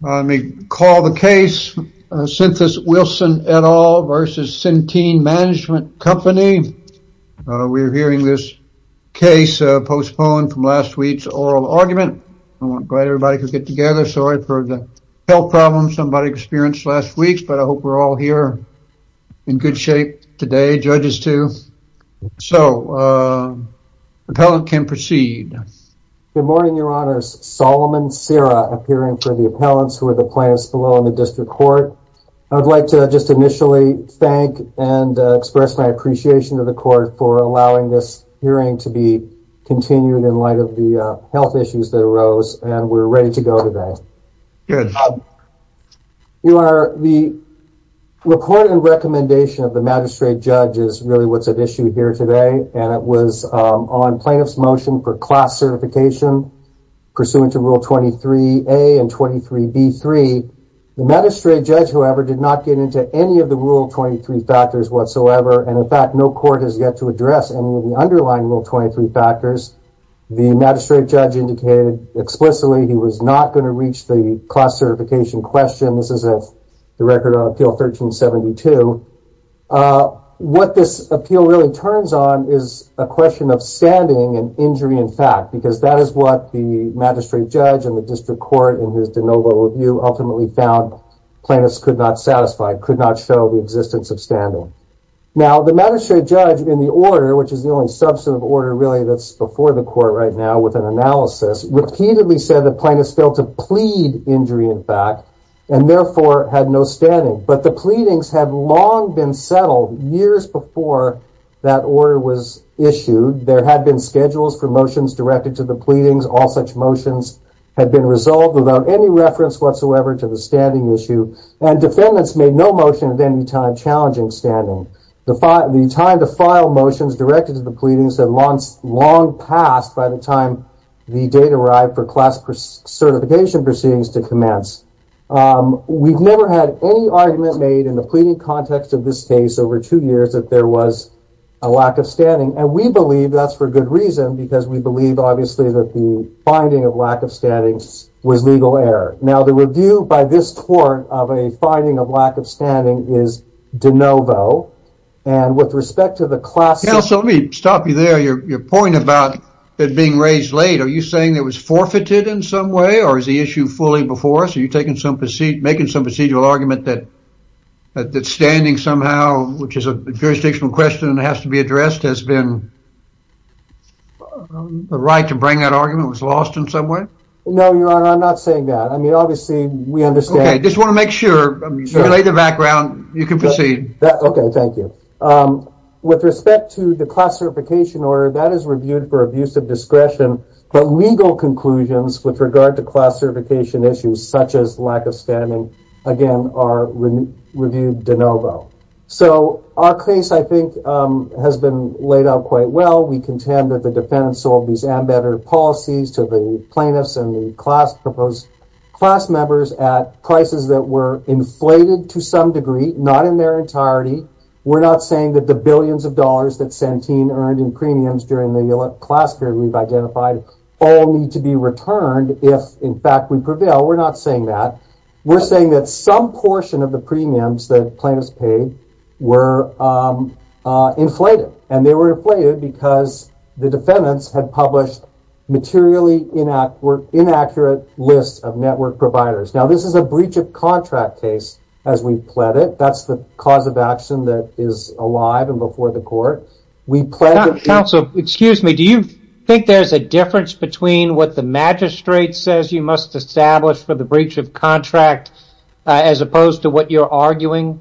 We are hearing this case postponed from last week's oral argument. I'm glad everybody could get together. Sorry for the health problems somebody experienced last week, but I hope we're all here in good shape today, judges too. So, the appellant can proceed. Good morning, your honors. Solomon Serra, appearing for the appellants who are the plaintiffs below in the district court. I'd like to just initially thank and express my appreciation to the court for allowing this hearing to be continued in light of the health issues that arose, and we're ready to go today. Your honor, the report and recommendation of the magistrate judge is really what's at issue here today, and it was on plaintiff's motion for class certification pursuant to Rule 23A and 23B3. The magistrate judge, however, did not get into any of the Rule 23 factors whatsoever, and in fact, no court has yet to address any of the underlying Rule 23 factors. The magistrate judge indicated explicitly he was not going to reach the class certification question. This is the record on Appeal 1372. What this appeal really turns on is a question of standing and injury in fact, because that is what the magistrate judge and the district court in his de novo review ultimately found plaintiffs could not satisfy, could not show the existence of standing. Now, the magistrate judge in the order, which is the only substantive order really that's before the court right now with an analysis, repeatedly said that plaintiffs failed to plead injury in fact, and therefore had no standing. But the pleadings had long been settled years before that order was issued. There had been schedules for motions directed to the pleadings. All such motions had been resolved without any reference whatsoever to the standing issue, and defendants made no motion at any time challenging standing. The time to file motions directed to the pleadings had long passed by the time the date arrived for class certification proceedings to commence. We've never had any argument made in the pleading context of this case over two years that there was a lack of standing, and we believe that's for good reason, because we believe obviously that the finding of lack of standing was legal error. Now, the review by this court of a finding of lack of standing is de novo. And with respect to the class... So let me stop you there. Your point about it being raised late, are you saying it was forfeited in some way, or is the issue fully before us? Are you making some procedural argument that standing somehow, which is a jurisdictional question that has to be addressed, has been the right to bring that argument? It was lost in some way? No, Your Honor, I'm not saying that. I mean, obviously, we understand... Okay, just want to make sure, to relay the background, you can proceed. Okay, thank you. With respect to the class certification order, that is reviewed for abuse of discretion, but legal conclusions with regard to class certification issues such as lack of standing, again, are reviewed de novo. So our case, I think, has been laid out quite well. We contend that the defendants sold these embedded policies to the plaintiffs and the class members at prices that were inflated to some degree, not in their entirety. We're not saying that the billions of dollars that Santin earned in premiums during the class period we've identified all need to be returned if, in fact, we prevail. We're not saying that. We're saying that some portion of the premiums that plaintiffs paid were inflated. And they were inflated because the defendants had published materially inaccurate lists of network providers. Now, this is a breach of contract case, as we've pled it. That's the cause of action that is alive and before the court. Counsel, excuse me. Do you think there's a difference between what the magistrate says you must establish for the breach of contract as opposed to what you're arguing?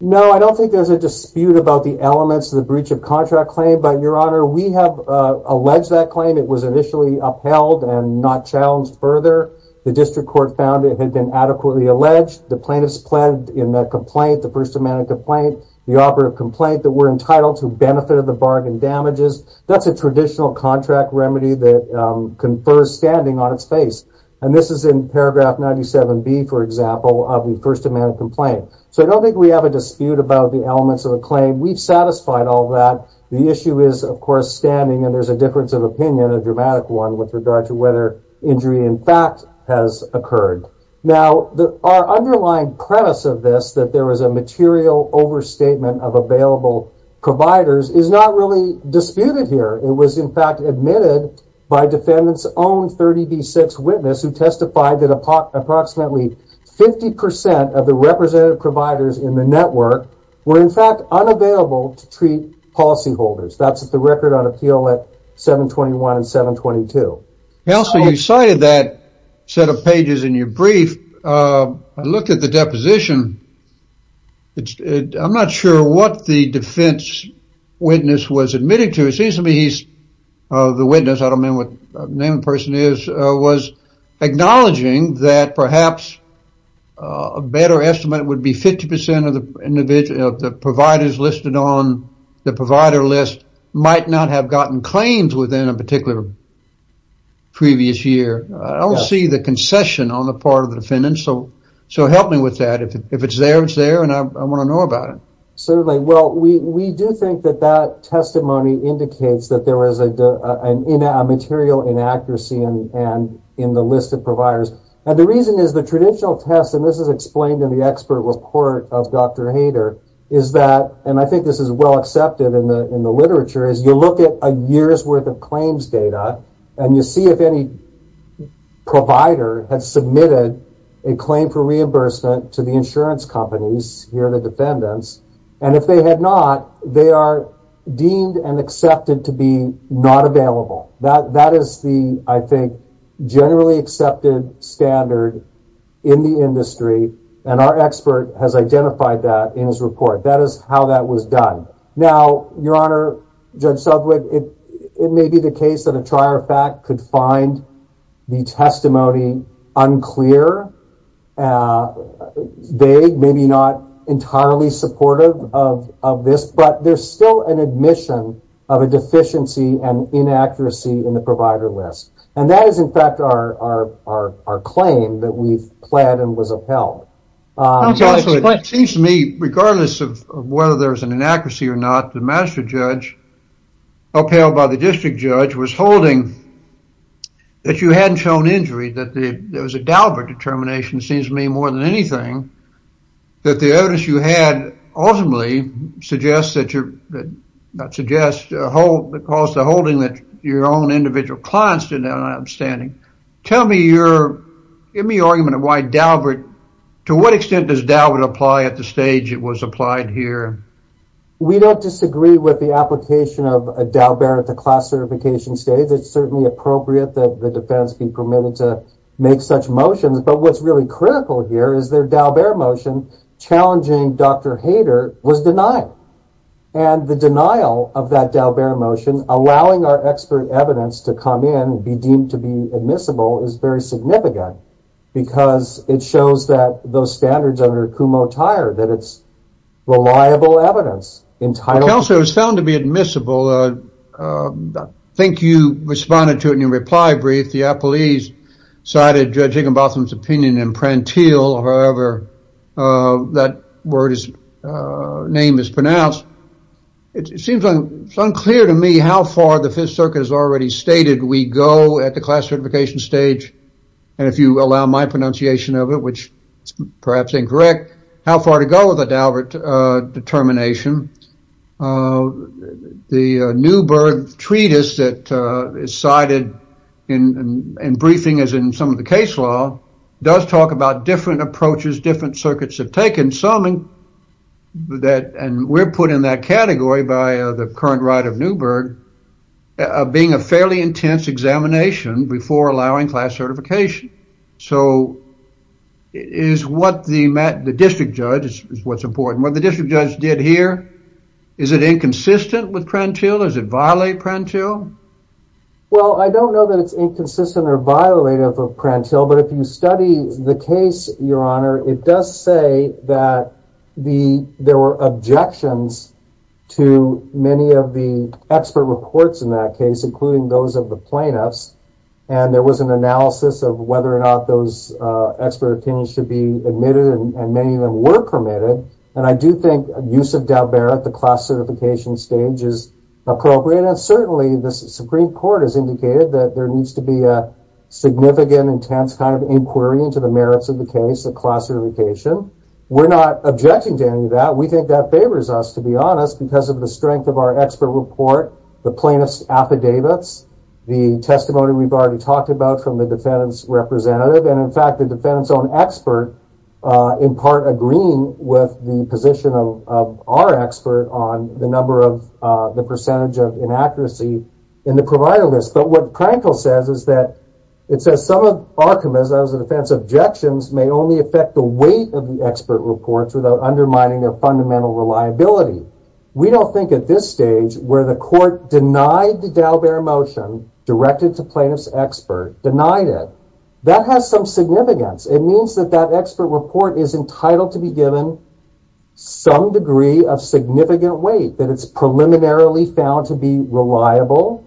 No, I don't think there's a dispute about the elements of the breach of contract claim. But, Your Honor, we have alleged that claim. It was initially upheld and not challenged further. The district court found it had been adequately alleged. The plaintiffs pled in that complaint, the first amendment complaint, the operative complaint, that were entitled to benefit of the bargain damages. That's a traditional contract remedy that confers standing on its face. And this is in paragraph 97B, for example, of the first amendment complaint. So, I don't think we have a dispute about the elements of the claim. We've satisfied all that. The issue is, of course, standing. And there's a difference of opinion, a dramatic one, with regard to whether injury, in fact, has occurred. Now, our underlying premise of this, that there is a material overstatement of available providers, is not really disputed here. It was, in fact, admitted by defendant's own 30B6 witness who testified that approximately 50% of the representative providers in the network were, in fact, unavailable to treat policyholders. That's the record on appeal at 721 and 722. Also, you cited that set of pages in your brief. I looked at the deposition. I'm not sure what the defense witness was admitting to. It seems to me he's the witness. I don't know what name the person is. acknowledging that perhaps a better estimate would be 50% of the providers listed on the provider list might not have gotten claims within a particular previous year. I don't see the concession on the part of the defendant, so help me with that. If it's there, it's there, and I want to know about it. Certainly. Well, we do think that that testimony indicates that there was a material inaccuracy in the list of providers. The reason is the traditional test, and this is explained in the expert report of Dr. Hayter, is that, and I think this is well accepted in the literature, is you look at a year's worth of claims data, and you see if any provider had submitted a claim for reimbursement to the insurance companies, here the defendants, and if they had not, they are deemed and accepted to be not available. That is the, I think, generally accepted standard in the industry, and our expert has identified that in his report. That is how that was done. Now, Your Honor, Judge Subwood, it may be the case that a trier of fact could find the testimony unclear, vague, maybe not entirely supportive of this, but there's still an admission of a deficiency and inaccuracy in the provider list, and that is, in fact, our claim that we've pled and was upheld. It seems to me, regardless of whether there's an inaccuracy or not, the master judge upheld by the district judge was holding that you hadn't shown injury, that there was a Daubert determination, it seems to me, more than anything, that the evidence you had ultimately suggests that you're, not suggests, that caused the holding that your own individual clients did not have an outstanding. Tell me your, give me your argument of why Daubert, to what extent does Daubert apply at the stage it was applied here? We don't disagree with the application of a Daubert at the class certification stage. It's certainly appropriate that the defense be permitted to make such motions, but what's really critical here is their Daubert motion challenging Dr. Hader was denied, and the denial of that Daubert motion, allowing our expert evidence to come in, be deemed to be admissible, is very significant, because it shows that those standards under Kumho-Tyre, that it's reliable evidence. Counselor, it was found to be admissible. I think you responded to it in your reply brief. The appellees cited Judge Higginbotham's opinion in Prantile, however, that word is, name is pronounced. It seems unclear to me how far the Fifth Circuit has already stated we go at the class certification stage. And if you allow my pronunciation of it, which is perhaps incorrect, how far to go with a Daubert determination. The Newburgh treatise that is cited in briefing, as in some of the case law, does talk about different approaches different circuits have taken. Some that, and we're put in that category by the current right of Newburgh, being a fairly intense examination before allowing class certification. So, is what the district judge, is what's important, what the district judge did here, is it inconsistent with Prantile? Does it violate Prantile? Well, I don't know that it's inconsistent or violative of Prantile, but if you study the case, Your Honor, it does say that there were objections to many of the expert reports in that case, including those of the plaintiffs. And there was an analysis of whether or not those expert opinions should be admitted, and many of them were permitted. And I do think use of Daubert at the class certification stage is appropriate, and certainly the Supreme Court has indicated that there needs to be a significant, intense kind of inquiry into the merits of the case, the class certification. We're not objecting to any of that. We think that favors us, to be honest, because of the strength of our expert report, the plaintiffs' affidavits, the testimony we've already talked about from the defendant's representative, and, in fact, the defendant's own expert, in part, agreeing with the position of our expert on the number of, the percentage of inaccuracy in the provider list. But what Prantile says is that, it says some of Archimedes' defense objections may only affect the weight of the expert reports without undermining their fundamental reliability. We don't think at this stage, where the court denied the Daubert motion, directed to plaintiff's expert, denied it, that has some significance. It means that that expert report is entitled to be given some degree of significant weight, that it's preliminarily found to be reliable,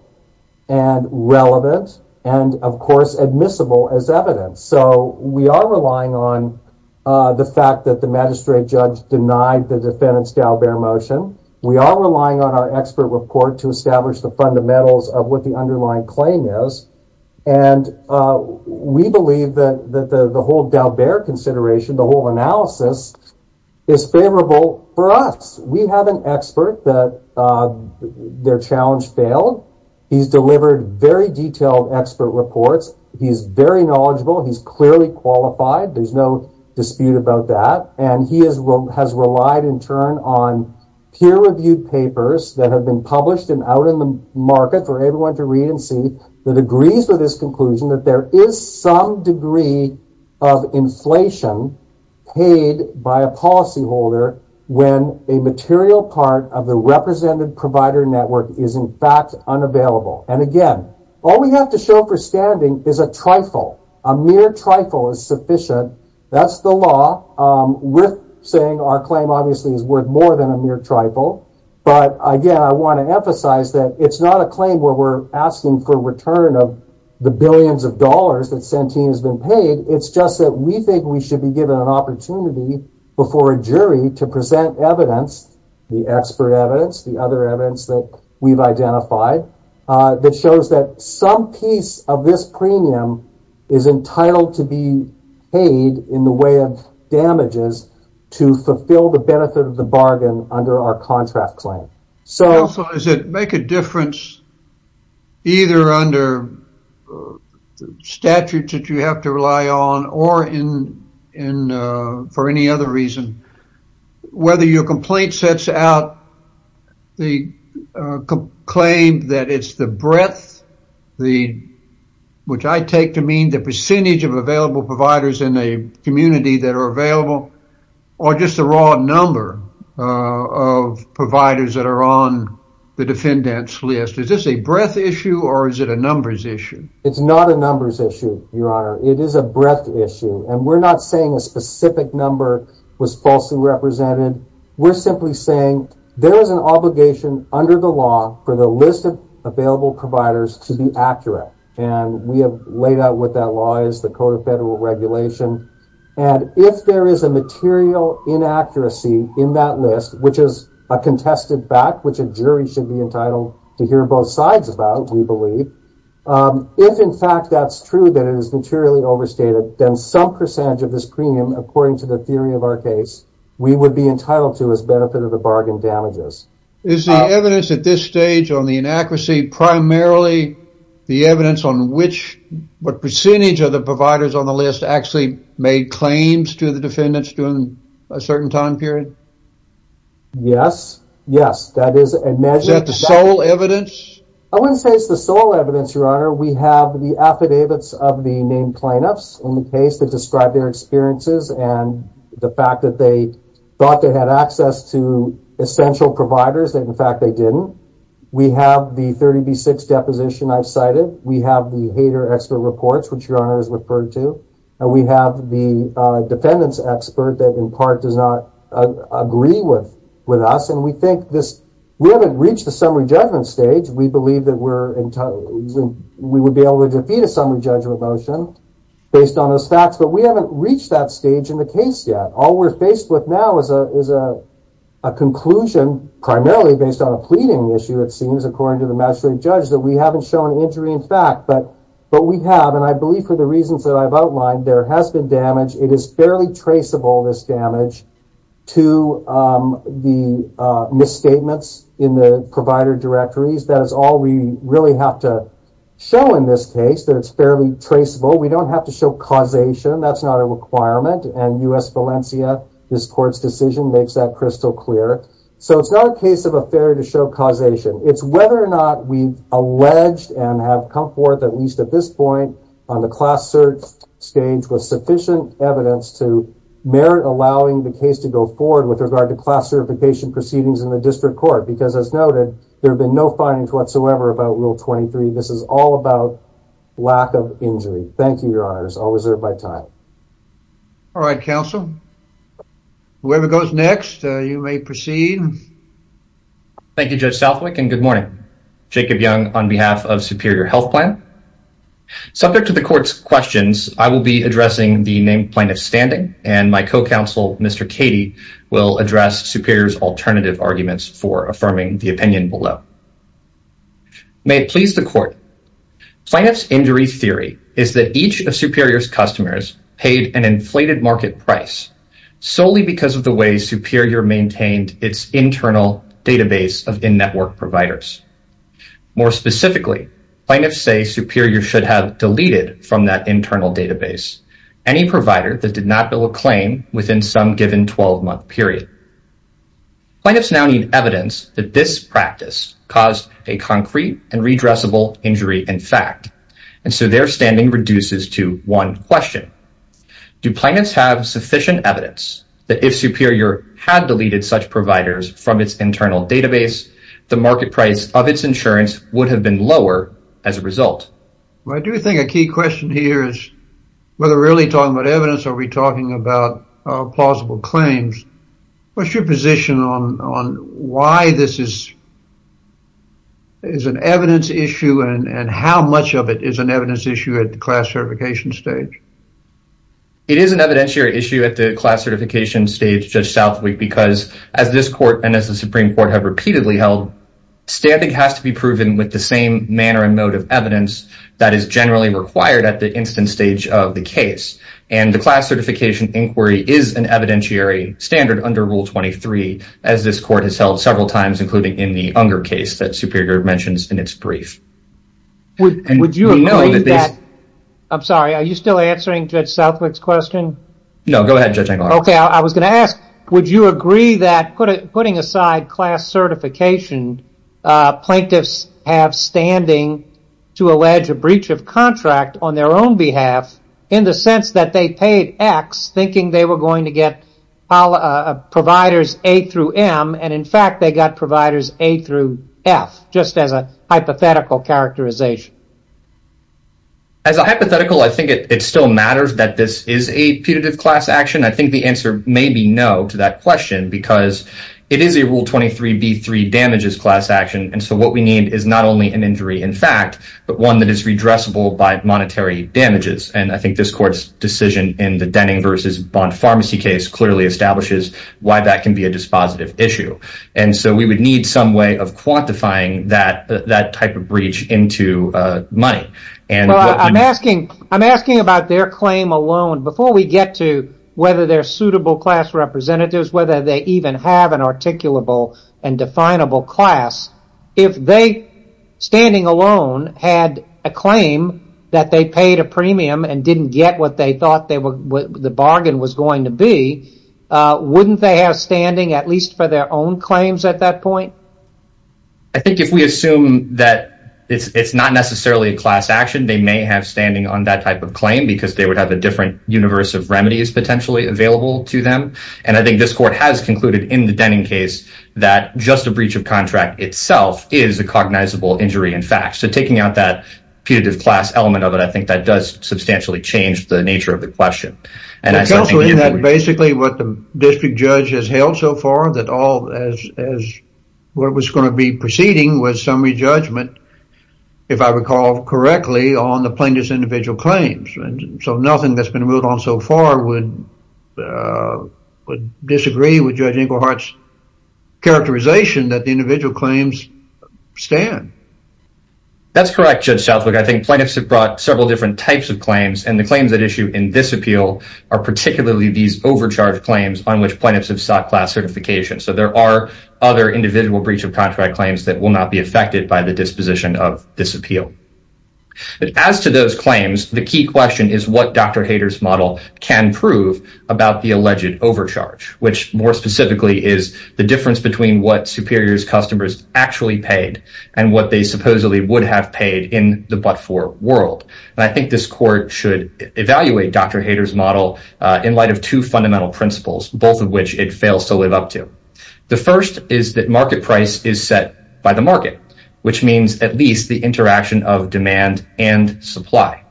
and relevant, and, of course, admissible as evidence. So, we are relying on the fact that the magistrate judge denied the defendant's Daubert motion. We are relying on our expert report to establish the fundamentals of what the underlying claim is. And we believe that the whole Daubert consideration, the whole analysis, is favorable for us. We have an expert that their challenge failed. He's delivered very detailed expert reports. He's very knowledgeable. He's clearly qualified. There's no dispute about that. And he has relied in turn on peer-reviewed papers that have been published and out in the market for everyone to read and see, that agrees with his conclusion that there is some degree of inflation paid by a policyholder when a material part of the represented provider network is in fact unavailable. And, again, all we have to show for standing is a trifle. A mere trifle is sufficient. That's the law. We're saying our claim, obviously, is worth more than a mere trifle. But, again, I want to emphasize that it's not a claim where we're asking for a return of the billions of dollars that Santin has been paid. It's just that we think we should be given an opportunity before a jury to present evidence, the expert evidence, the other evidence that we've identified, that shows that some piece of this premium is entitled to be paid in the way of damages to fulfill the benefit of the bargain under our contract claim. So does it make a difference either under statutes that you have to rely on or for any other reason, whether your complaint sets out the claim that it's the breadth, which I take to mean the percentage of available providers in a community that are available, or just the raw number of providers that are on the defendant's list? Is this a breadth issue or is it a numbers issue? It's not a numbers issue, Your Honor. It is a breadth issue. And we're not saying a specific number was falsely represented. We're simply saying there is an obligation under the law for the list of available providers to be accurate. And we have laid out what that law is, the Code of Federal Regulation. And if there is a material inaccuracy in that list, which is a contested fact, which a jury should be entitled to hear both sides about, we believe, if in fact that's true, that it is materially overstated, then some percentage of this premium, according to the theory of our case, we would be entitled to as benefit of the bargain damages. Is the evidence at this stage on the inaccuracy primarily the evidence on which, what percentage of the providers on the list actually made claims to the defendants during a certain time period? Yes. Yes, that is a measurement. Is that the sole evidence? I wouldn't say it's the sole evidence, Your Honor. We have the affidavits of the named plaintiffs in the case that describe their experiences and the fact that they thought they had access to essential providers that in fact they didn't. We have the 30B6 deposition I've cited. We have the hater expert reports, which Your Honor has referred to. And we have the defendant's expert that in part does not agree with us. And we think this, we haven't reached the summary judgment stage. We believe that we would be able to defeat a summary judgment motion based on those facts. But we haven't reached that stage in the case yet. All we're faced with now is a conclusion primarily based on a pleading issue, it seems, according to the magistrate judge, that we haven't shown injury in fact. But we have, and I believe for the reasons that I've outlined, there has been damage. It is fairly traceable, this damage, to the misstatements in the provider directories. That is all we really have to show in this case, that it's fairly traceable. We don't have to show causation. That's not a requirement. And U.S. Valencia, this court's decision makes that crystal clear. So it's not a case of a failure to show causation. It's whether or not we've alleged and have come forth, at least at this point, on the class search stage with sufficient evidence to merit allowing the case to go forward with regard to class certification proceedings in the district court. Because as noted, there have been no findings whatsoever about Rule 23. This is all about lack of injury. Thank you, Your Honors. I'll reserve my time. All right, counsel. Whoever goes next, you may proceed. Thank you, Judge Southwick, and good morning. Jacob Young on behalf of Superior Health Plan. Subject to the court's questions, I will be addressing the named plaintiff's standing, and my co-counsel, Mr. Cady, will address Superior's alternative arguments for affirming the opinion below. May it please the court. Plaintiff's injury theory is that each of Superior's customers paid an inflated market price solely because of the way Superior maintained its internal database of in-network providers. More specifically, plaintiffs say Superior should have deleted from that internal database any provider that did not bill a claim within some given 12-month period. Plaintiffs now need evidence that this practice caused a concrete and redressable injury in fact, and so their standing reduces to one question. Do plaintiffs have sufficient evidence that if Superior had deleted such providers from its internal database, the market price of its insurance would have been lower as a result? Well, I do think a key question here is whether we're really talking about evidence or are we talking about plausible claims. What's your position on why this is an evidence issue and how much of it is an evidence issue at the class certification stage? It is an evidentiary issue at the class certification stage, Judge Southwick, because as this court and as the Supreme Court have repeatedly held, standing has to be proven with the same manner and mode of evidence that is generally required at the instance stage of the case. And the class certification inquiry is an evidentiary standard under Rule 23 as this court has held several times including in the Unger case that Superior mentions in its brief. Would you agree that... I'm sorry, are you still answering Judge Southwick's question? No, go ahead, Judge Engelhardt. Okay, I was going to ask, would you agree that putting aside class certification, plaintiffs have standing to allege a breach of contract on their own behalf in the sense that they paid X thinking they were going to get providers A through M and in fact they got providers A through F just as a hypothetical characterization? As a hypothetical, I think it still matters that this is a putative class action. I think the answer may be no to that question because it is a Rule 23b3 damages class action and so what we need is not only an injury in fact but one that is redressable by monetary damages. And I think this court's decision in the Denning v. Bond Pharmacy case clearly establishes why that can be a dispositive issue. And so we would need some way of quantifying that type of breach into money. I'm asking about their claim alone. Before we get to whether they're suitable class representatives, whether they even have an articulable and definable class, if they standing alone had a claim that they paid a premium and didn't get what they thought the bargain was going to be, wouldn't they have standing at least for their own claims at that point? I think if we assume that it's not necessarily a class action, they may have standing on that type of claim because they would have a different universe of remedies potentially available to them and I think this court has concluded in the Denning case that just a breach of contract itself is a cognizable injury in fact. So taking out that putative class element of it, I think that does substantially change the nature of the question. And I think that's basically what the district judge has held so far that all as what was going to be proceeding was summary judgment, if I recall correctly, on the plaintiff's individual claims. So nothing that's been moved on so far would disagree with Judge Ingleheart's characterization that the individual claims stand. That's correct, Judge Southwick. I think plaintiffs have brought several different types of claims and the claims that issue in this appeal are particularly these overcharged claims on which plaintiffs have sought class certification. So there are other individual breach of contract claims that will not be affected by the disposition of this appeal. As to those claims, the key question is what Dr. Hayter's model can prove about the alleged overcharge, which more specifically is the difference between what Superior's customers actually paid and what they supposedly would have paid in the but-for world. And I think this court should evaluate Dr. Hayter's model in light of two fundamental principles, both of which it fails to live up to. The first is that market price is set by the market, which means at least the interaction of demand and supply.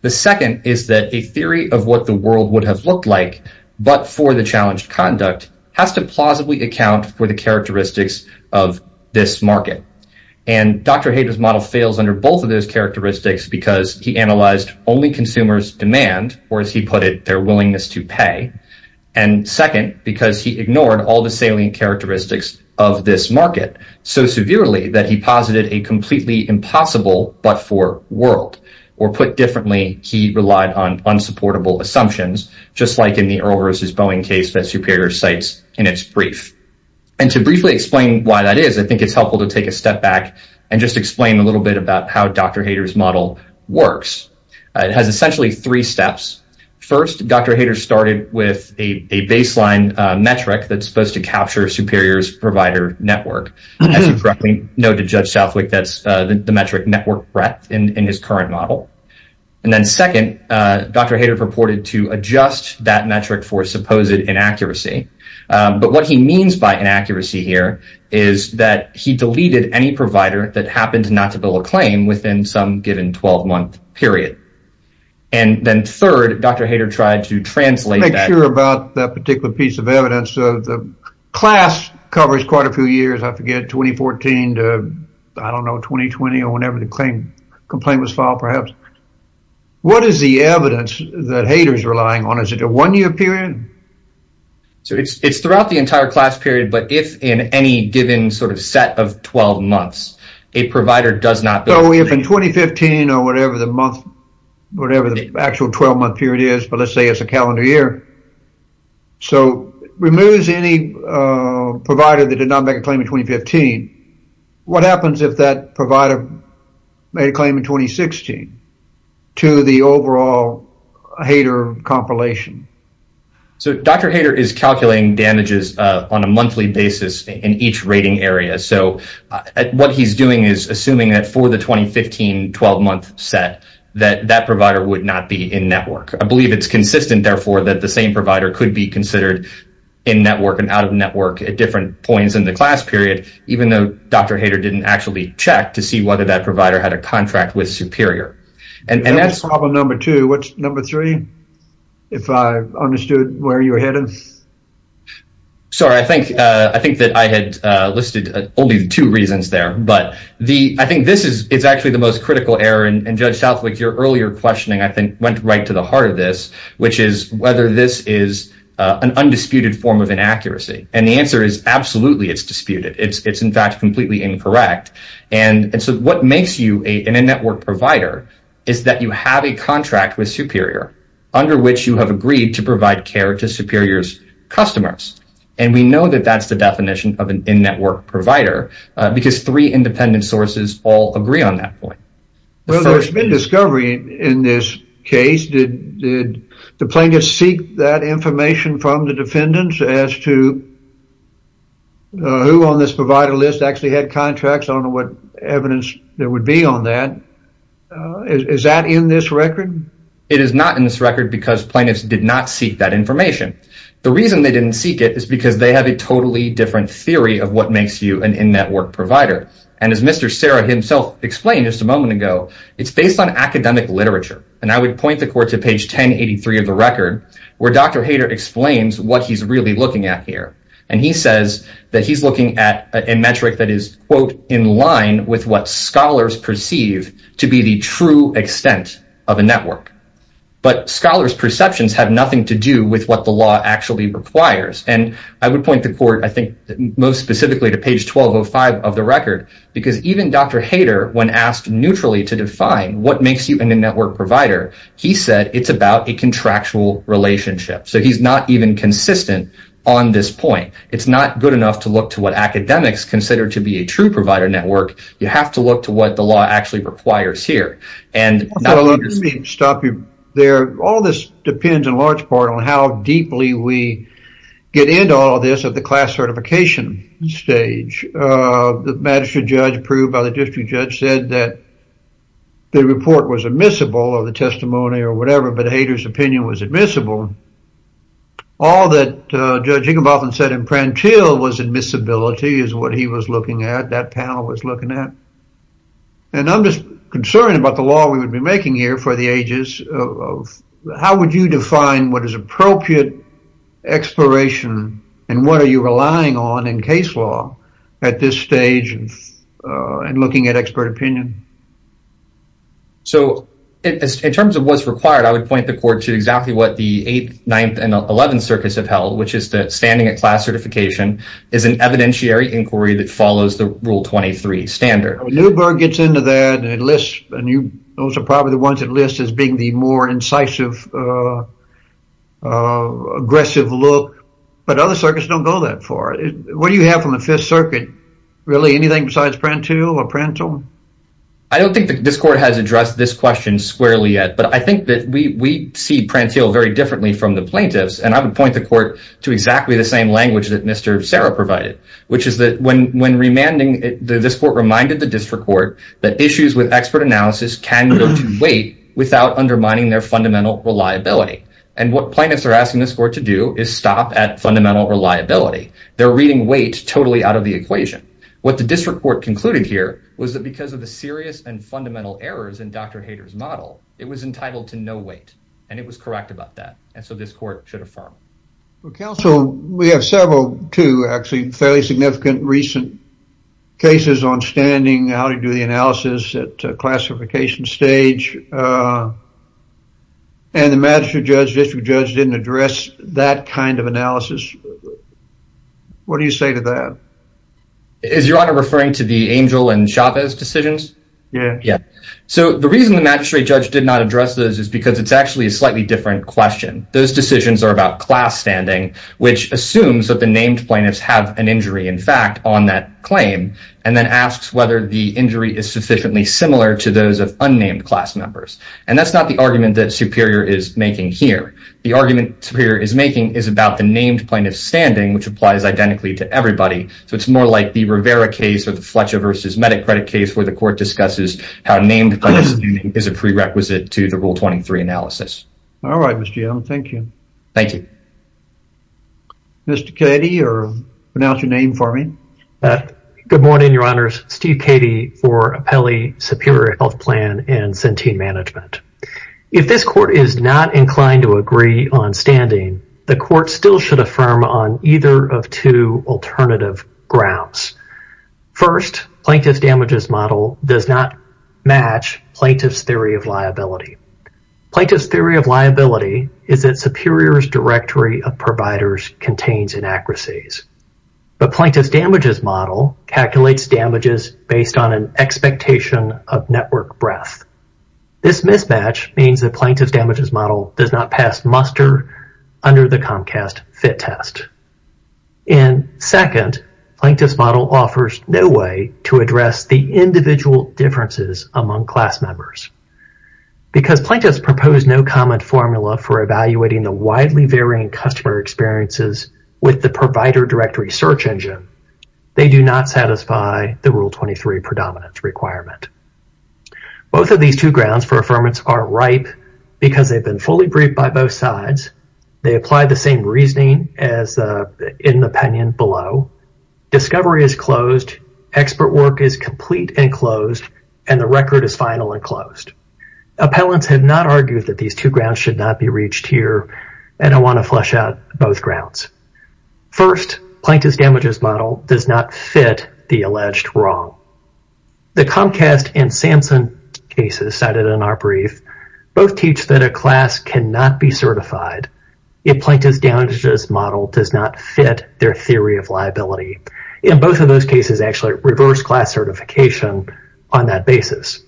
The second is that a theory of what the world would have looked like but for the challenged conduct has to plausibly account for the characteristics of this market. And Dr. Hayter's model fails under both of those characteristics because he analyzed only consumers' demand, or as he put it, their willingness to pay. And second, because he ignored all the salient characteristics of this market so severely that he posited a completely impossible but-for world. Or put differently, he relied on unsupportable assumptions, just like in the Earl versus Boeing case that Superior cites in its brief. And to briefly explain why that is, I think it's helpful to take a step back and just explain a little bit about how Dr. Hayter's model works. It has essentially three steps. First, Dr. Hayter started with a baseline metric that's supposed to capture Superior's provider network. As you probably know to Judge Southwick, that's the metric network breadth in his current model. And then second, Dr. Hayter purported to adjust that metric for supposed inaccuracy. But what he means by inaccuracy here is that he deleted any provider that happened not to bill a claim within some given 12-month period. And then third, Dr. Hayter tried to translate that. I'm not sure about that particular piece of evidence. The class covers quite a few years. I forget, 2014 to, I don't know, 2020 or whenever the complaint was filed perhaps. What is the evidence that Hayter's relying on? Is it a one-year period? It's throughout the entire class period, but if in any given sort of set of 12 months, a provider does not bill. So if in 2015 or whatever the month, whatever the actual 12-month period is, but let's say it's a calendar year, so removes any provider that did not make a claim in 2015, what happens if that provider made a claim in 2016 to the overall Hayter compilation? So Dr. Hayter is calculating damages on a monthly basis in each rating area. So what he's doing is assuming that for the 2015 12-month set, that that provider would not be in network. I believe it's consistent, therefore, that the same provider could be considered in network and out of network at different points in the class period, even though Dr. Hayter didn't actually check to see whether that provider had a contract with superior. And that's problem number two. What's number three? If I understood where you're headed. Sorry, I think that I had listed only two reasons there, but I think this is actually the most critical error, and Judge Southwick, your earlier questioning, I think, went right to the heart of this, which is whether this is an undisputed form of inaccuracy. And the answer is absolutely it's disputed. It's, in fact, completely incorrect. And so what makes you an in-network provider is that you have a contract with superior under which you have agreed to provide care to superior's customers. And we know that that's the definition of an in-network provider because three independent sources all agree on that point. Well, there's been discovery in this case. Did the plaintiff seek that information from the defendants as to who on this provider list actually had contracts? I don't know what evidence there would be on that. Is that in this record? It is not in this record because plaintiffs did not seek that information. The reason they didn't seek it is because they have a totally different theory of what makes you an in-network provider. And as Mr. Serra himself explained just a moment ago, it's based on academic literature. And I would point the court to page 1083 of the record, where Dr. Hayter explains what he's really looking at here. And he says that he's looking at a metric that is, quote, in line with what scholars perceive to be the true extent of a network. But scholars' perceptions have nothing to do with what the law actually requires. And I would point the court, I think, most specifically to page 1205 of the record because even Dr. Hayter, when asked neutrally to define what makes you an in-network provider, he said it's about a contractual relationship. So he's not even consistent on this point. It's not good enough to look to what academics consider to be a true provider network. You have to look to what the law actually requires here. Let me stop you there. All this depends in large part on how deeply we get into all of this at the class certification stage. The magistrate judge approved by the district judge said that the report was admissible, or the testimony, or whatever. But Hayter's opinion was admissible. All that Judge Higginbotham said in Prantill was admissibility is what he was looking at, that panel was looking at. And I'm just concerned about the law we would be making here for the ages. How would you define what is appropriate exploration, and what are you relying on in case law at this stage in looking at expert opinion? So in terms of what's required, I would point the court to exactly what the 8th, 9th, and 11th circuits have held, which is that standing at class certification is an evidentiary inquiry that follows the Rule 23 standard. When Newberg gets into that and lists, and those are probably the ones that are listed as being the more incisive, aggressive look, but other circuits don't go that far. What do you have from the 5th Circuit? Really, anything besides Prantill or Prantill? I don't think this court has addressed this question squarely yet, but I think that we see Prantill very differently from the plaintiffs, and I would point the court to exactly the same language that Mr. Serra provided, which is that when remanding, this court reminded the district court that issues with expert analysis can go to weight without undermining their fundamental reliability, and what plaintiffs are asking this court to do is stop at fundamental reliability. They're reading weight totally out of the equation. What the district court concluded here was that because of the serious and fundamental errors in Dr. Hader's model, it was entitled to no weight, and it was correct about that, and so this court should affirm. Well, counsel, we have several, two actually fairly significant recent cases on standing, how to do the analysis at classification stage, and the magistrate judge, district judge, didn't address that kind of analysis. What do you say to that? Is your honor referring to the Angel and Chavez decisions? Yeah. So the reason the magistrate judge did not address those is because it's actually a slightly different question. Those decisions are about class standing, which assumes that the named plaintiffs have an injury, in fact, on that claim, and then asks whether the injury is sufficiently similar to those of unnamed class members, and that's not the argument that Superior is making here. The argument Superior is making is about the named plaintiff's standing, which applies identically to everybody, so it's more like the Rivera case or the Fletcher v. Medic credit case where the court discusses how named plaintiffs' standing is a prerequisite to the Rule 23 analysis. All right, Mr. Yellen. Thank you. Mr. Cady, or pronounce your name for me. Good morning, your honors. Steve Cady for Apelli Superior Health Plan and Centene Management. If this court is not inclined to agree on standing, the court still should affirm on either of two alternative grounds. First, plaintiff's damages model does not match plaintiff's theory of liability. Plaintiff's theory of liability is that Superior's directory of providers contains inaccuracies, but plaintiff's damages model calculates damages based on an expectation of network breadth. This mismatch means that plaintiff's damages model does not pass muster under the Comcast fit test. And second, plaintiff's model offers no way to address the individual differences among class members because plaintiff's proposed no comment formula for evaluating the widely varying customer experiences with the provider directory search engine. They do not satisfy the Rule 23 predominance requirement. Both of these two grounds for affirmance are ripe because they've been fully briefed by both sides. They apply the same reasoning as in the opinion below. Discovery is closed, expert work is complete and closed, and the record is final and closed. Appellants have not argued that these two grounds should not be reached here, and I want to flush out both grounds. First, plaintiff's damages model does not fit the alleged wrong. The Comcast and Samson cases cited in our brief both teach that a class cannot be certified if plaintiff's damages model does not fit their theory of liability. In both of those cases, actually, reverse class certification on that basis.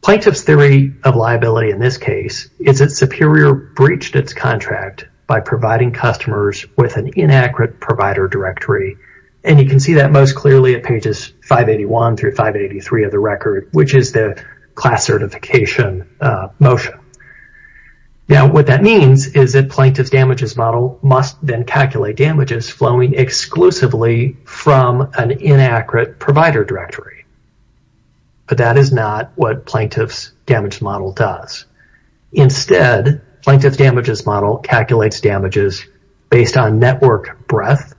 Plaintiff's theory of liability in this case is that Superior breached its contract by providing customers with an inaccurate provider directory, and you can see that most clearly at pages 581 through 583 of the record, which is the class certification motion. Now, what that means is that plaintiff's damages model must then calculate damages flowing exclusively from an inaccurate provider directory. But that is not what plaintiff's damages model does. Instead, plaintiff's damages model calculates damages based on network breadth,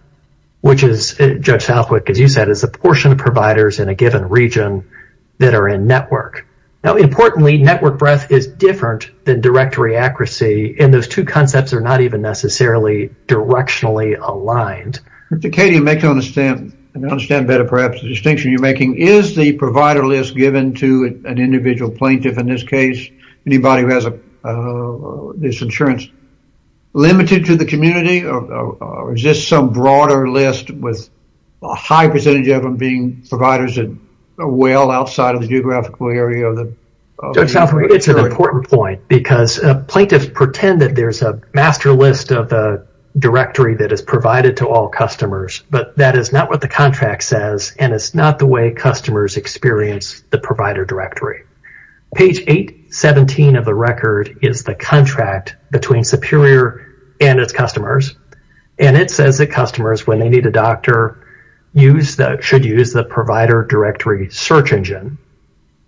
which is, Judge Southwick, as you said, is the portion of providers in a given region that are in network. Now, importantly, network breadth is different than directory accuracy, and those two concepts are not even necessarily directionally aligned. Katie, to make you understand better perhaps the distinction you're making, is the provider list given to an individual plaintiff, in this case, anybody who has this insurance limited to the community, or is this some broader list with a high percentage of them being providers that are well outside of the geographical area? Judge Southwick, it's an important point, because plaintiffs pretend that there's a master list of the directory that is provided to all customers, but that is not what the contract says, and it's not the way customers experience the provider directory. Page 817 of the record is the contract between Superior and its customers, and it says that customers, when they need a doctor, should use the provider directory search engine,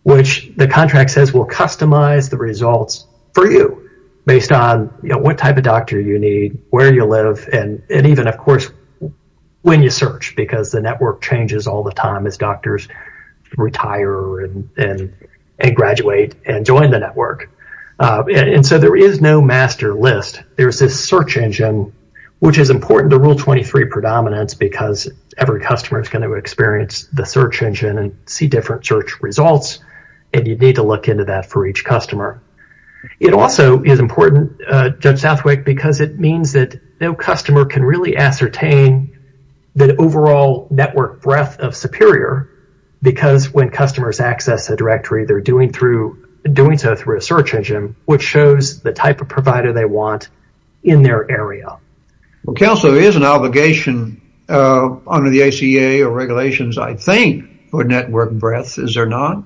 which the contract says will customize the results for you based on what type of doctor you need, where you live, and even, of course, when you search, because the network changes all the time as doctors retire and graduate and join the network. And so there is no master list. There's this search engine, which is important to Rule 23 predominance because every customer is going to experience the search engine and see different search results, and you need to look into that for each customer. It also is important, Judge Southwick, because it means that no customer can really ascertain the overall network breadth of Superior because when customers access a directory, they're doing so through a search engine, which shows the type of provider they want in their area. Well, counsel, there is an obligation under the ACA or regulations, I think, for network breadth. Is there not?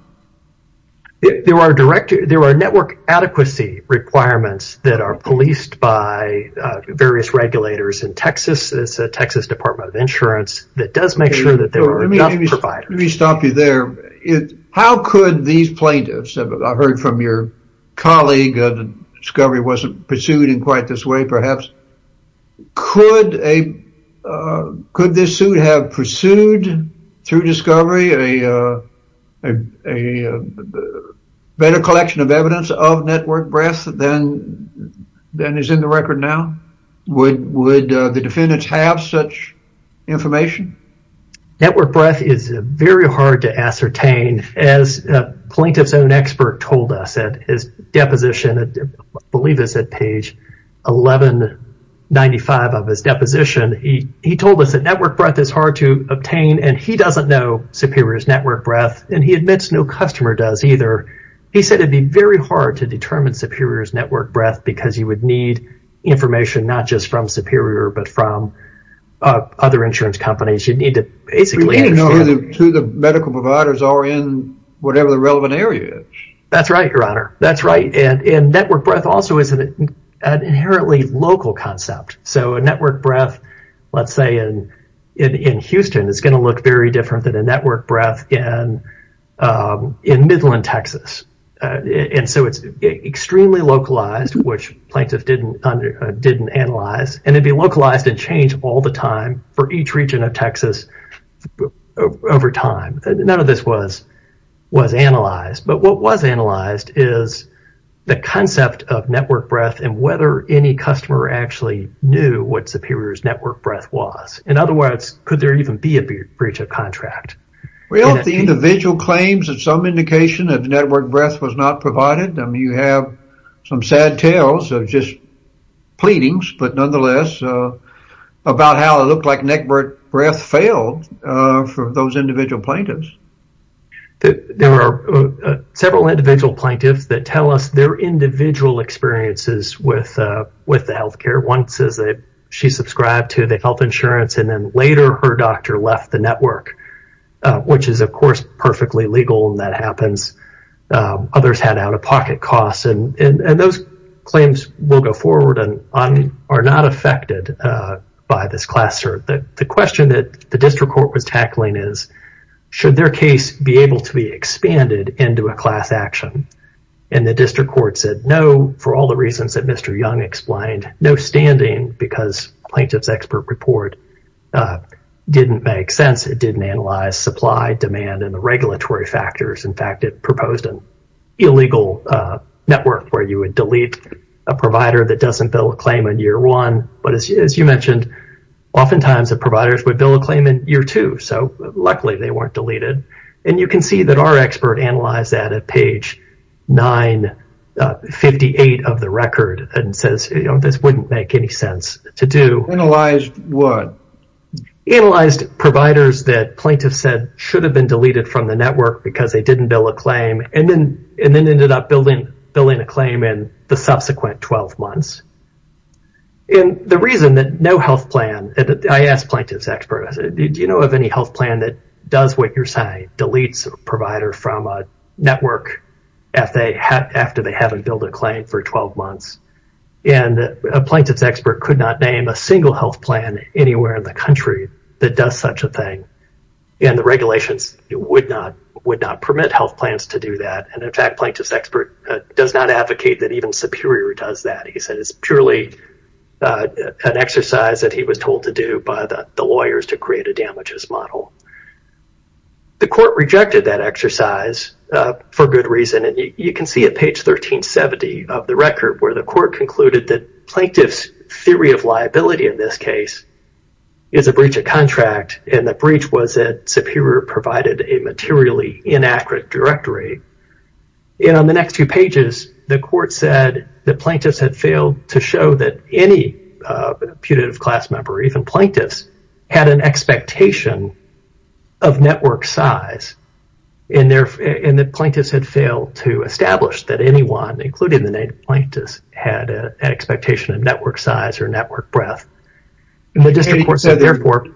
There are network adequacy requirements that are policed by various regulators in Texas. It's the Texas Department of Insurance that does make sure that there are enough providers. Let me stop you there. How could these plaintiffs, I've heard from your colleague that Discovery wasn't pursued in quite this way, perhaps, could this suit have pursued through Discovery a better collection of evidence of network breadth than is in the record now? Would the defendants have such information? Network breadth is very hard to ascertain. As a plaintiff's own expert told us at his deposition, I believe it's at page 1195 of his deposition, he told us that network breadth is hard to obtain, and he doesn't know Superior's network breadth, and he admits no customer does either. He said it would be very hard to determine Superior's network breadth because you would need information not just from Superior but from other insurance companies. You'd need to basically understand. You need to know who the medical providers are in whatever the relevant area is. That's right, Your Honor. That's right. And network breadth also is an inherently local concept. So a network breadth, let's say, in Houston, is going to look very different than a network breadth in Midland, Texas. And so it's extremely localized, which plaintiffs didn't analyze, and it'd be localized and change all the time for each region of Texas over time. None of this was analyzed. But what was analyzed is the concept of network breadth and whether any customer actually knew what Superior's network breadth was. And otherwise, could there even be a breach of contract? Well, the individual claims that some indication of network breadth was not provided. I mean, you have some sad tales of just pleadings, but nonetheless, about how it looked like network breadth failed for those individual plaintiffs. There were several individual plaintiffs that tell us their individual experiences with the health care. One says that she subscribed to the health insurance, and then later her doctor left the network, which is, of course, perfectly legal, and that happens. Others had out-of-pocket costs. And those claims will go forward and are not affected by this class search. The question that the district court was tackling is, should their case be able to be expanded into a class action? And the district court said no, for all the reasons that Mr. Young explained. No standing because plaintiff's expert report didn't make sense. It didn't analyze supply, demand, and the regulatory factors. In fact, it proposed an illegal network where you would delete a provider that doesn't bill a claim in year one. But as you mentioned, oftentimes the providers would bill a claim in year two. So luckily they weren't deleted. And you can see that our expert analyzed that at page 958 of the record and says, you know, this wouldn't make any sense to do. Analyzed what? Analyzed providers that plaintiffs said should have been deleted from the network because they didn't bill a claim, and then ended up billing a claim in the subsequent 12 months. And the reason that no health plan, I asked plaintiff's expert, do you know of any health plan that does what you're saying, deletes a provider from a network after they haven't billed a claim for 12 months? And a plaintiff's expert could not name a single health plan anywhere in the country that does such a thing. And the regulations would not permit health plans to do that. And in fact, plaintiff's expert does not advocate that even Superior does that. He said it's purely an exercise that he was told to do by the lawyers to create a damages model. The court rejected that exercise for good reason. And you can see at page 1370 of the record where the court concluded that plaintiff's theory of liability in this case is a breach of contract. And the breach was that Superior provided a materially inaccurate directory. And on the next few pages, the court said that plaintiffs had failed to show that any putative class member, even plaintiffs, had an expectation of network size. And the plaintiffs had failed to establish that anyone, including the plaintiffs, had an expectation of network size or network breadth. And the district court said, therefore.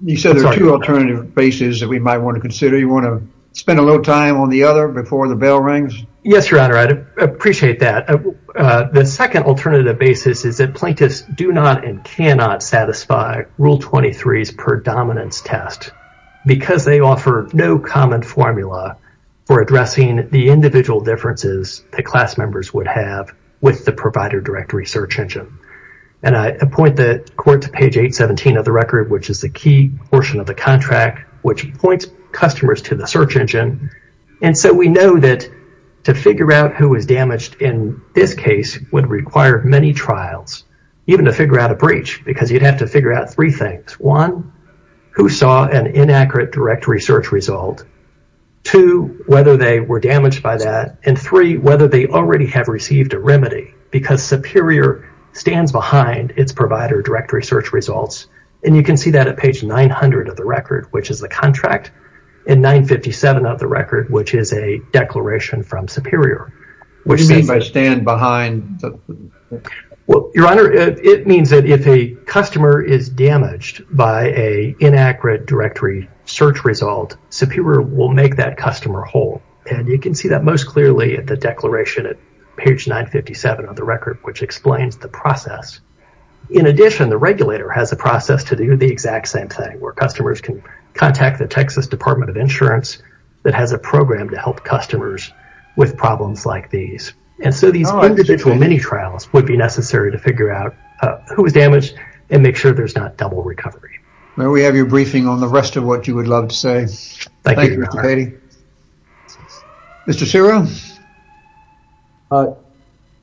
You said there are two alternative bases that we might want to consider. You want to spend a little time on the other before the bell rings? Yes, Your Honor, I'd appreciate that. The second alternative basis is that plaintiffs do not and cannot satisfy Rule 23's predominance test because they offer no common formula for addressing the individual differences that class members would have with the provider directory search engine. And I point the court to page 817 of the record, which is the key portion of the contract, which points customers to the search engine. And so we know that to figure out who was damaged in this case would require many trials, even to figure out a breach, because you'd have to figure out three things. One, who saw an inaccurate directory search result. Two, whether they were damaged by that. And three, whether they already have received a remedy, because Superior stands behind its provider directory search results. And you can see that at page 900 of the record, which is the contract, and 957 of the record, which is a declaration from Superior. What do you mean by stand behind? Well, Your Honor, it means that if a customer is damaged by an inaccurate directory search result, Superior will make that customer whole. And you can see that most clearly at the declaration at page 957 of the record, which explains the process. In addition, the regulator has a process to do the exact same thing, where customers can contact the Texas Department of Insurance, that has a program to help customers with problems like these. And so these individual mini-trials would be necessary to figure out who was damaged and make sure there's not double recovery. Well, we have your briefing on the rest of what you would love to say. Thank you, Your Honor. Thank you, Mr. Beatty. Mr. Ciro?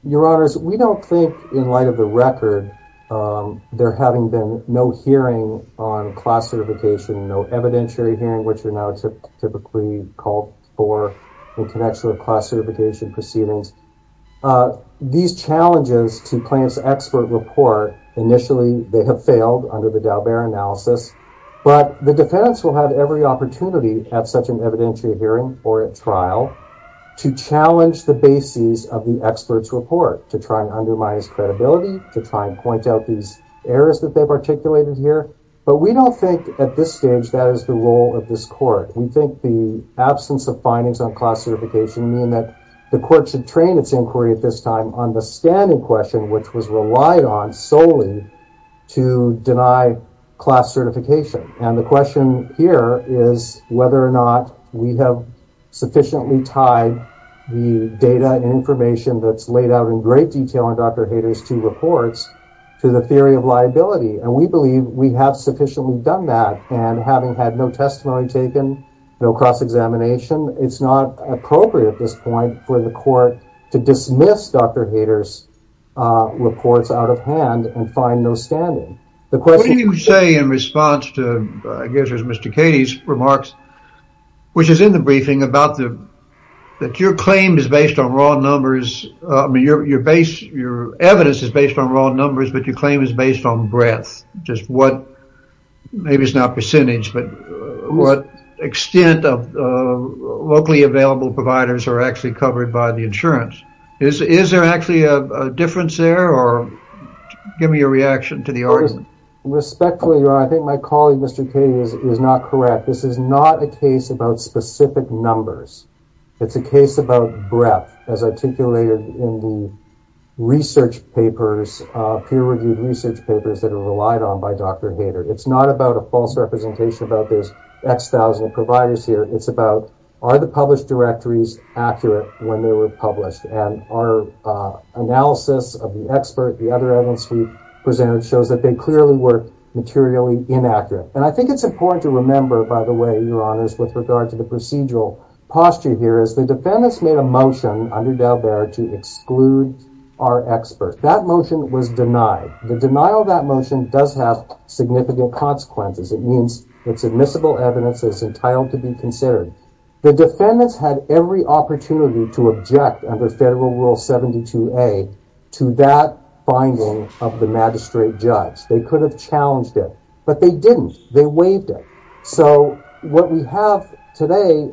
Your Honors, we don't think, in light of the record, there having been no hearing on class certification, no evidentiary hearing, which are now typically called for in connection with class certification proceedings. These challenges to plaintiff's expert report, initially they have failed under the Daubert analysis. But the defense will have every opportunity at such an evidentiary hearing or at trial to challenge the bases of the expert's report, to try and undermine its credibility, to try and point out these errors that they've articulated here. But we don't think at this stage that is the role of this court. We think the absence of findings on class certification mean that the court should train its inquiry at this time on the standing question, which was relied on solely to deny class certification. And the question here is whether or not we have sufficiently tied the data and information that's laid out in great detail in Dr. Hayter's two reports to the theory of liability. And we believe we have sufficiently done that. And having had no testimony taken, no cross-examination, it's not appropriate at this point for the court to dismiss Dr. Hayter's reports out of hand and find no standing. What do you say in response to, I guess, Mr. Cady's remarks, which is in the briefing about that your claim is based on raw numbers, your evidence is based on raw numbers, but your claim is based on breadth. Just what, maybe it's not percentage, but what extent of locally available providers are actually covered by the insurance? Is there actually a difference there, or give me your reaction to the argument. Respectfully, I think my colleague, Mr. Cady, is not correct. This is not a case about specific numbers. It's a case about breadth, as articulated in the research papers, peer-reviewed research papers that are relied on by Dr. Hayter. It's not about a false representation about those X thousand providers here. It's about, are the published directories accurate when they were published? And our analysis of the expert, the other evidence we presented, shows that they clearly were materially inaccurate. And I think it's important to remember, by the way, Your Honors, with regard to the procedural posture here, is the defendants made a motion under Dalbert to exclude our expert. That motion was denied. The denial of that motion does have significant consequences. It means it's admissible evidence that's entitled to be considered. The defendants had every opportunity to object under Federal Rule 72A to that finding of the magistrate judge. They could have challenged it. But they didn't. They waived it. So what we have today,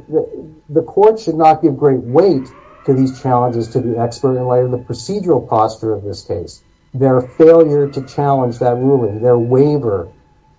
the court should not give great weight to these challenges to the expert in light of the procedural posture of this case. Their failure to challenge that ruling, their waiver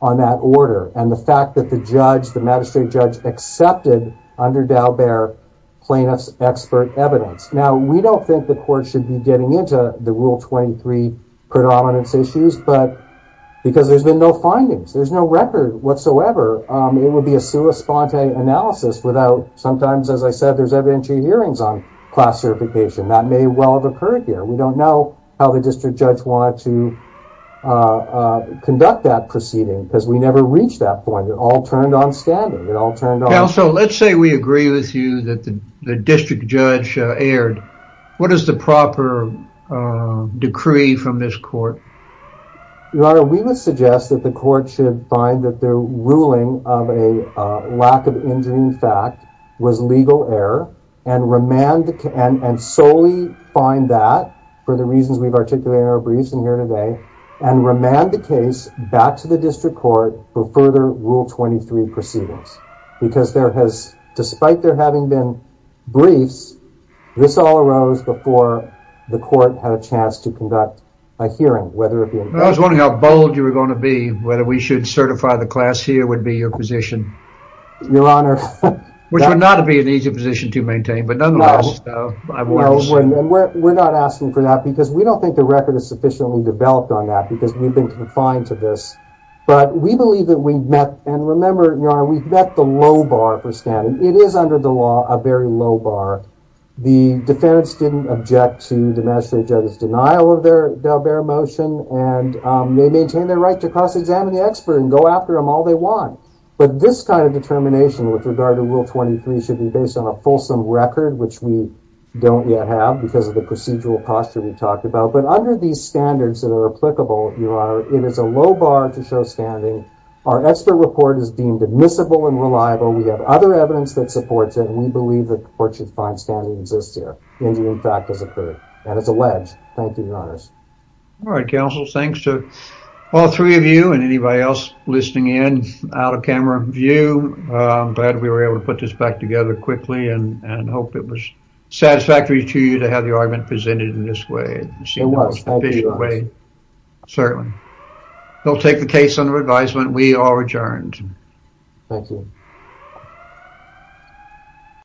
on that order, and the fact that the judge, the magistrate judge, accepted under Dalbert plaintiff's expert evidence. Now, we don't think the court should be getting into the Rule 23 predominance issues, because there's been no findings. There's no record whatsoever. It would be a sua sponte analysis without, sometimes, as I said, there's evidentiary hearings on class certification. That may well have occurred here. We don't know how the district judge wanted to conduct that proceeding, because we never reached that point. It all turned on standard. It all turned on standard. Now, so let's say we agree with you that the district judge erred. What is the proper decree from this court? Your Honor, we would suggest that the court should find that the ruling of a lack of engineering fact was legal error and solely find that, for the reasons we've articulated in our briefs in here today, and remand the case back to the district court for further Rule 23 proceedings, because there has, despite there having been briefs, this all arose before the court had a chance to conduct a hearing. I was wondering how bold you were going to be, whether we should certify the class here would be your position. Your Honor. Which would not be an easy position to maintain, but nonetheless. We're not asking for that, because we don't think the record is sufficiently developed on that, because we've been confined to this. But we believe that we've met, and remember, Your Honor, we've met the low bar for standing. It is, under the law, a very low bar. The defense didn't object to the magistrate judge's denial of their motion, and they maintain their right to cross-examine the expert and go after him all they want. But this kind of determination, with regard to Rule 23, should be based on a fulsome record, which we don't yet have because of the procedural posture we talked about. But under these standards that are applicable, Your Honor, it is a low bar to show standing. Our extra report is deemed admissible and reliable. We have other evidence that supports it, and we believe the court should find standing exists here, and it in fact has occurred, and it's alleged. Thank you, Your Honors. All right, counsel. Thanks to all three of you and anybody else listening in out of camera view. I'm glad we were able to put this back together quickly, and hope it was satisfactory to you to have the argument presented in this way. It was. Thank you, Your Honor. Certainly. We'll take the case under advisement. We are adjourned. Thank you.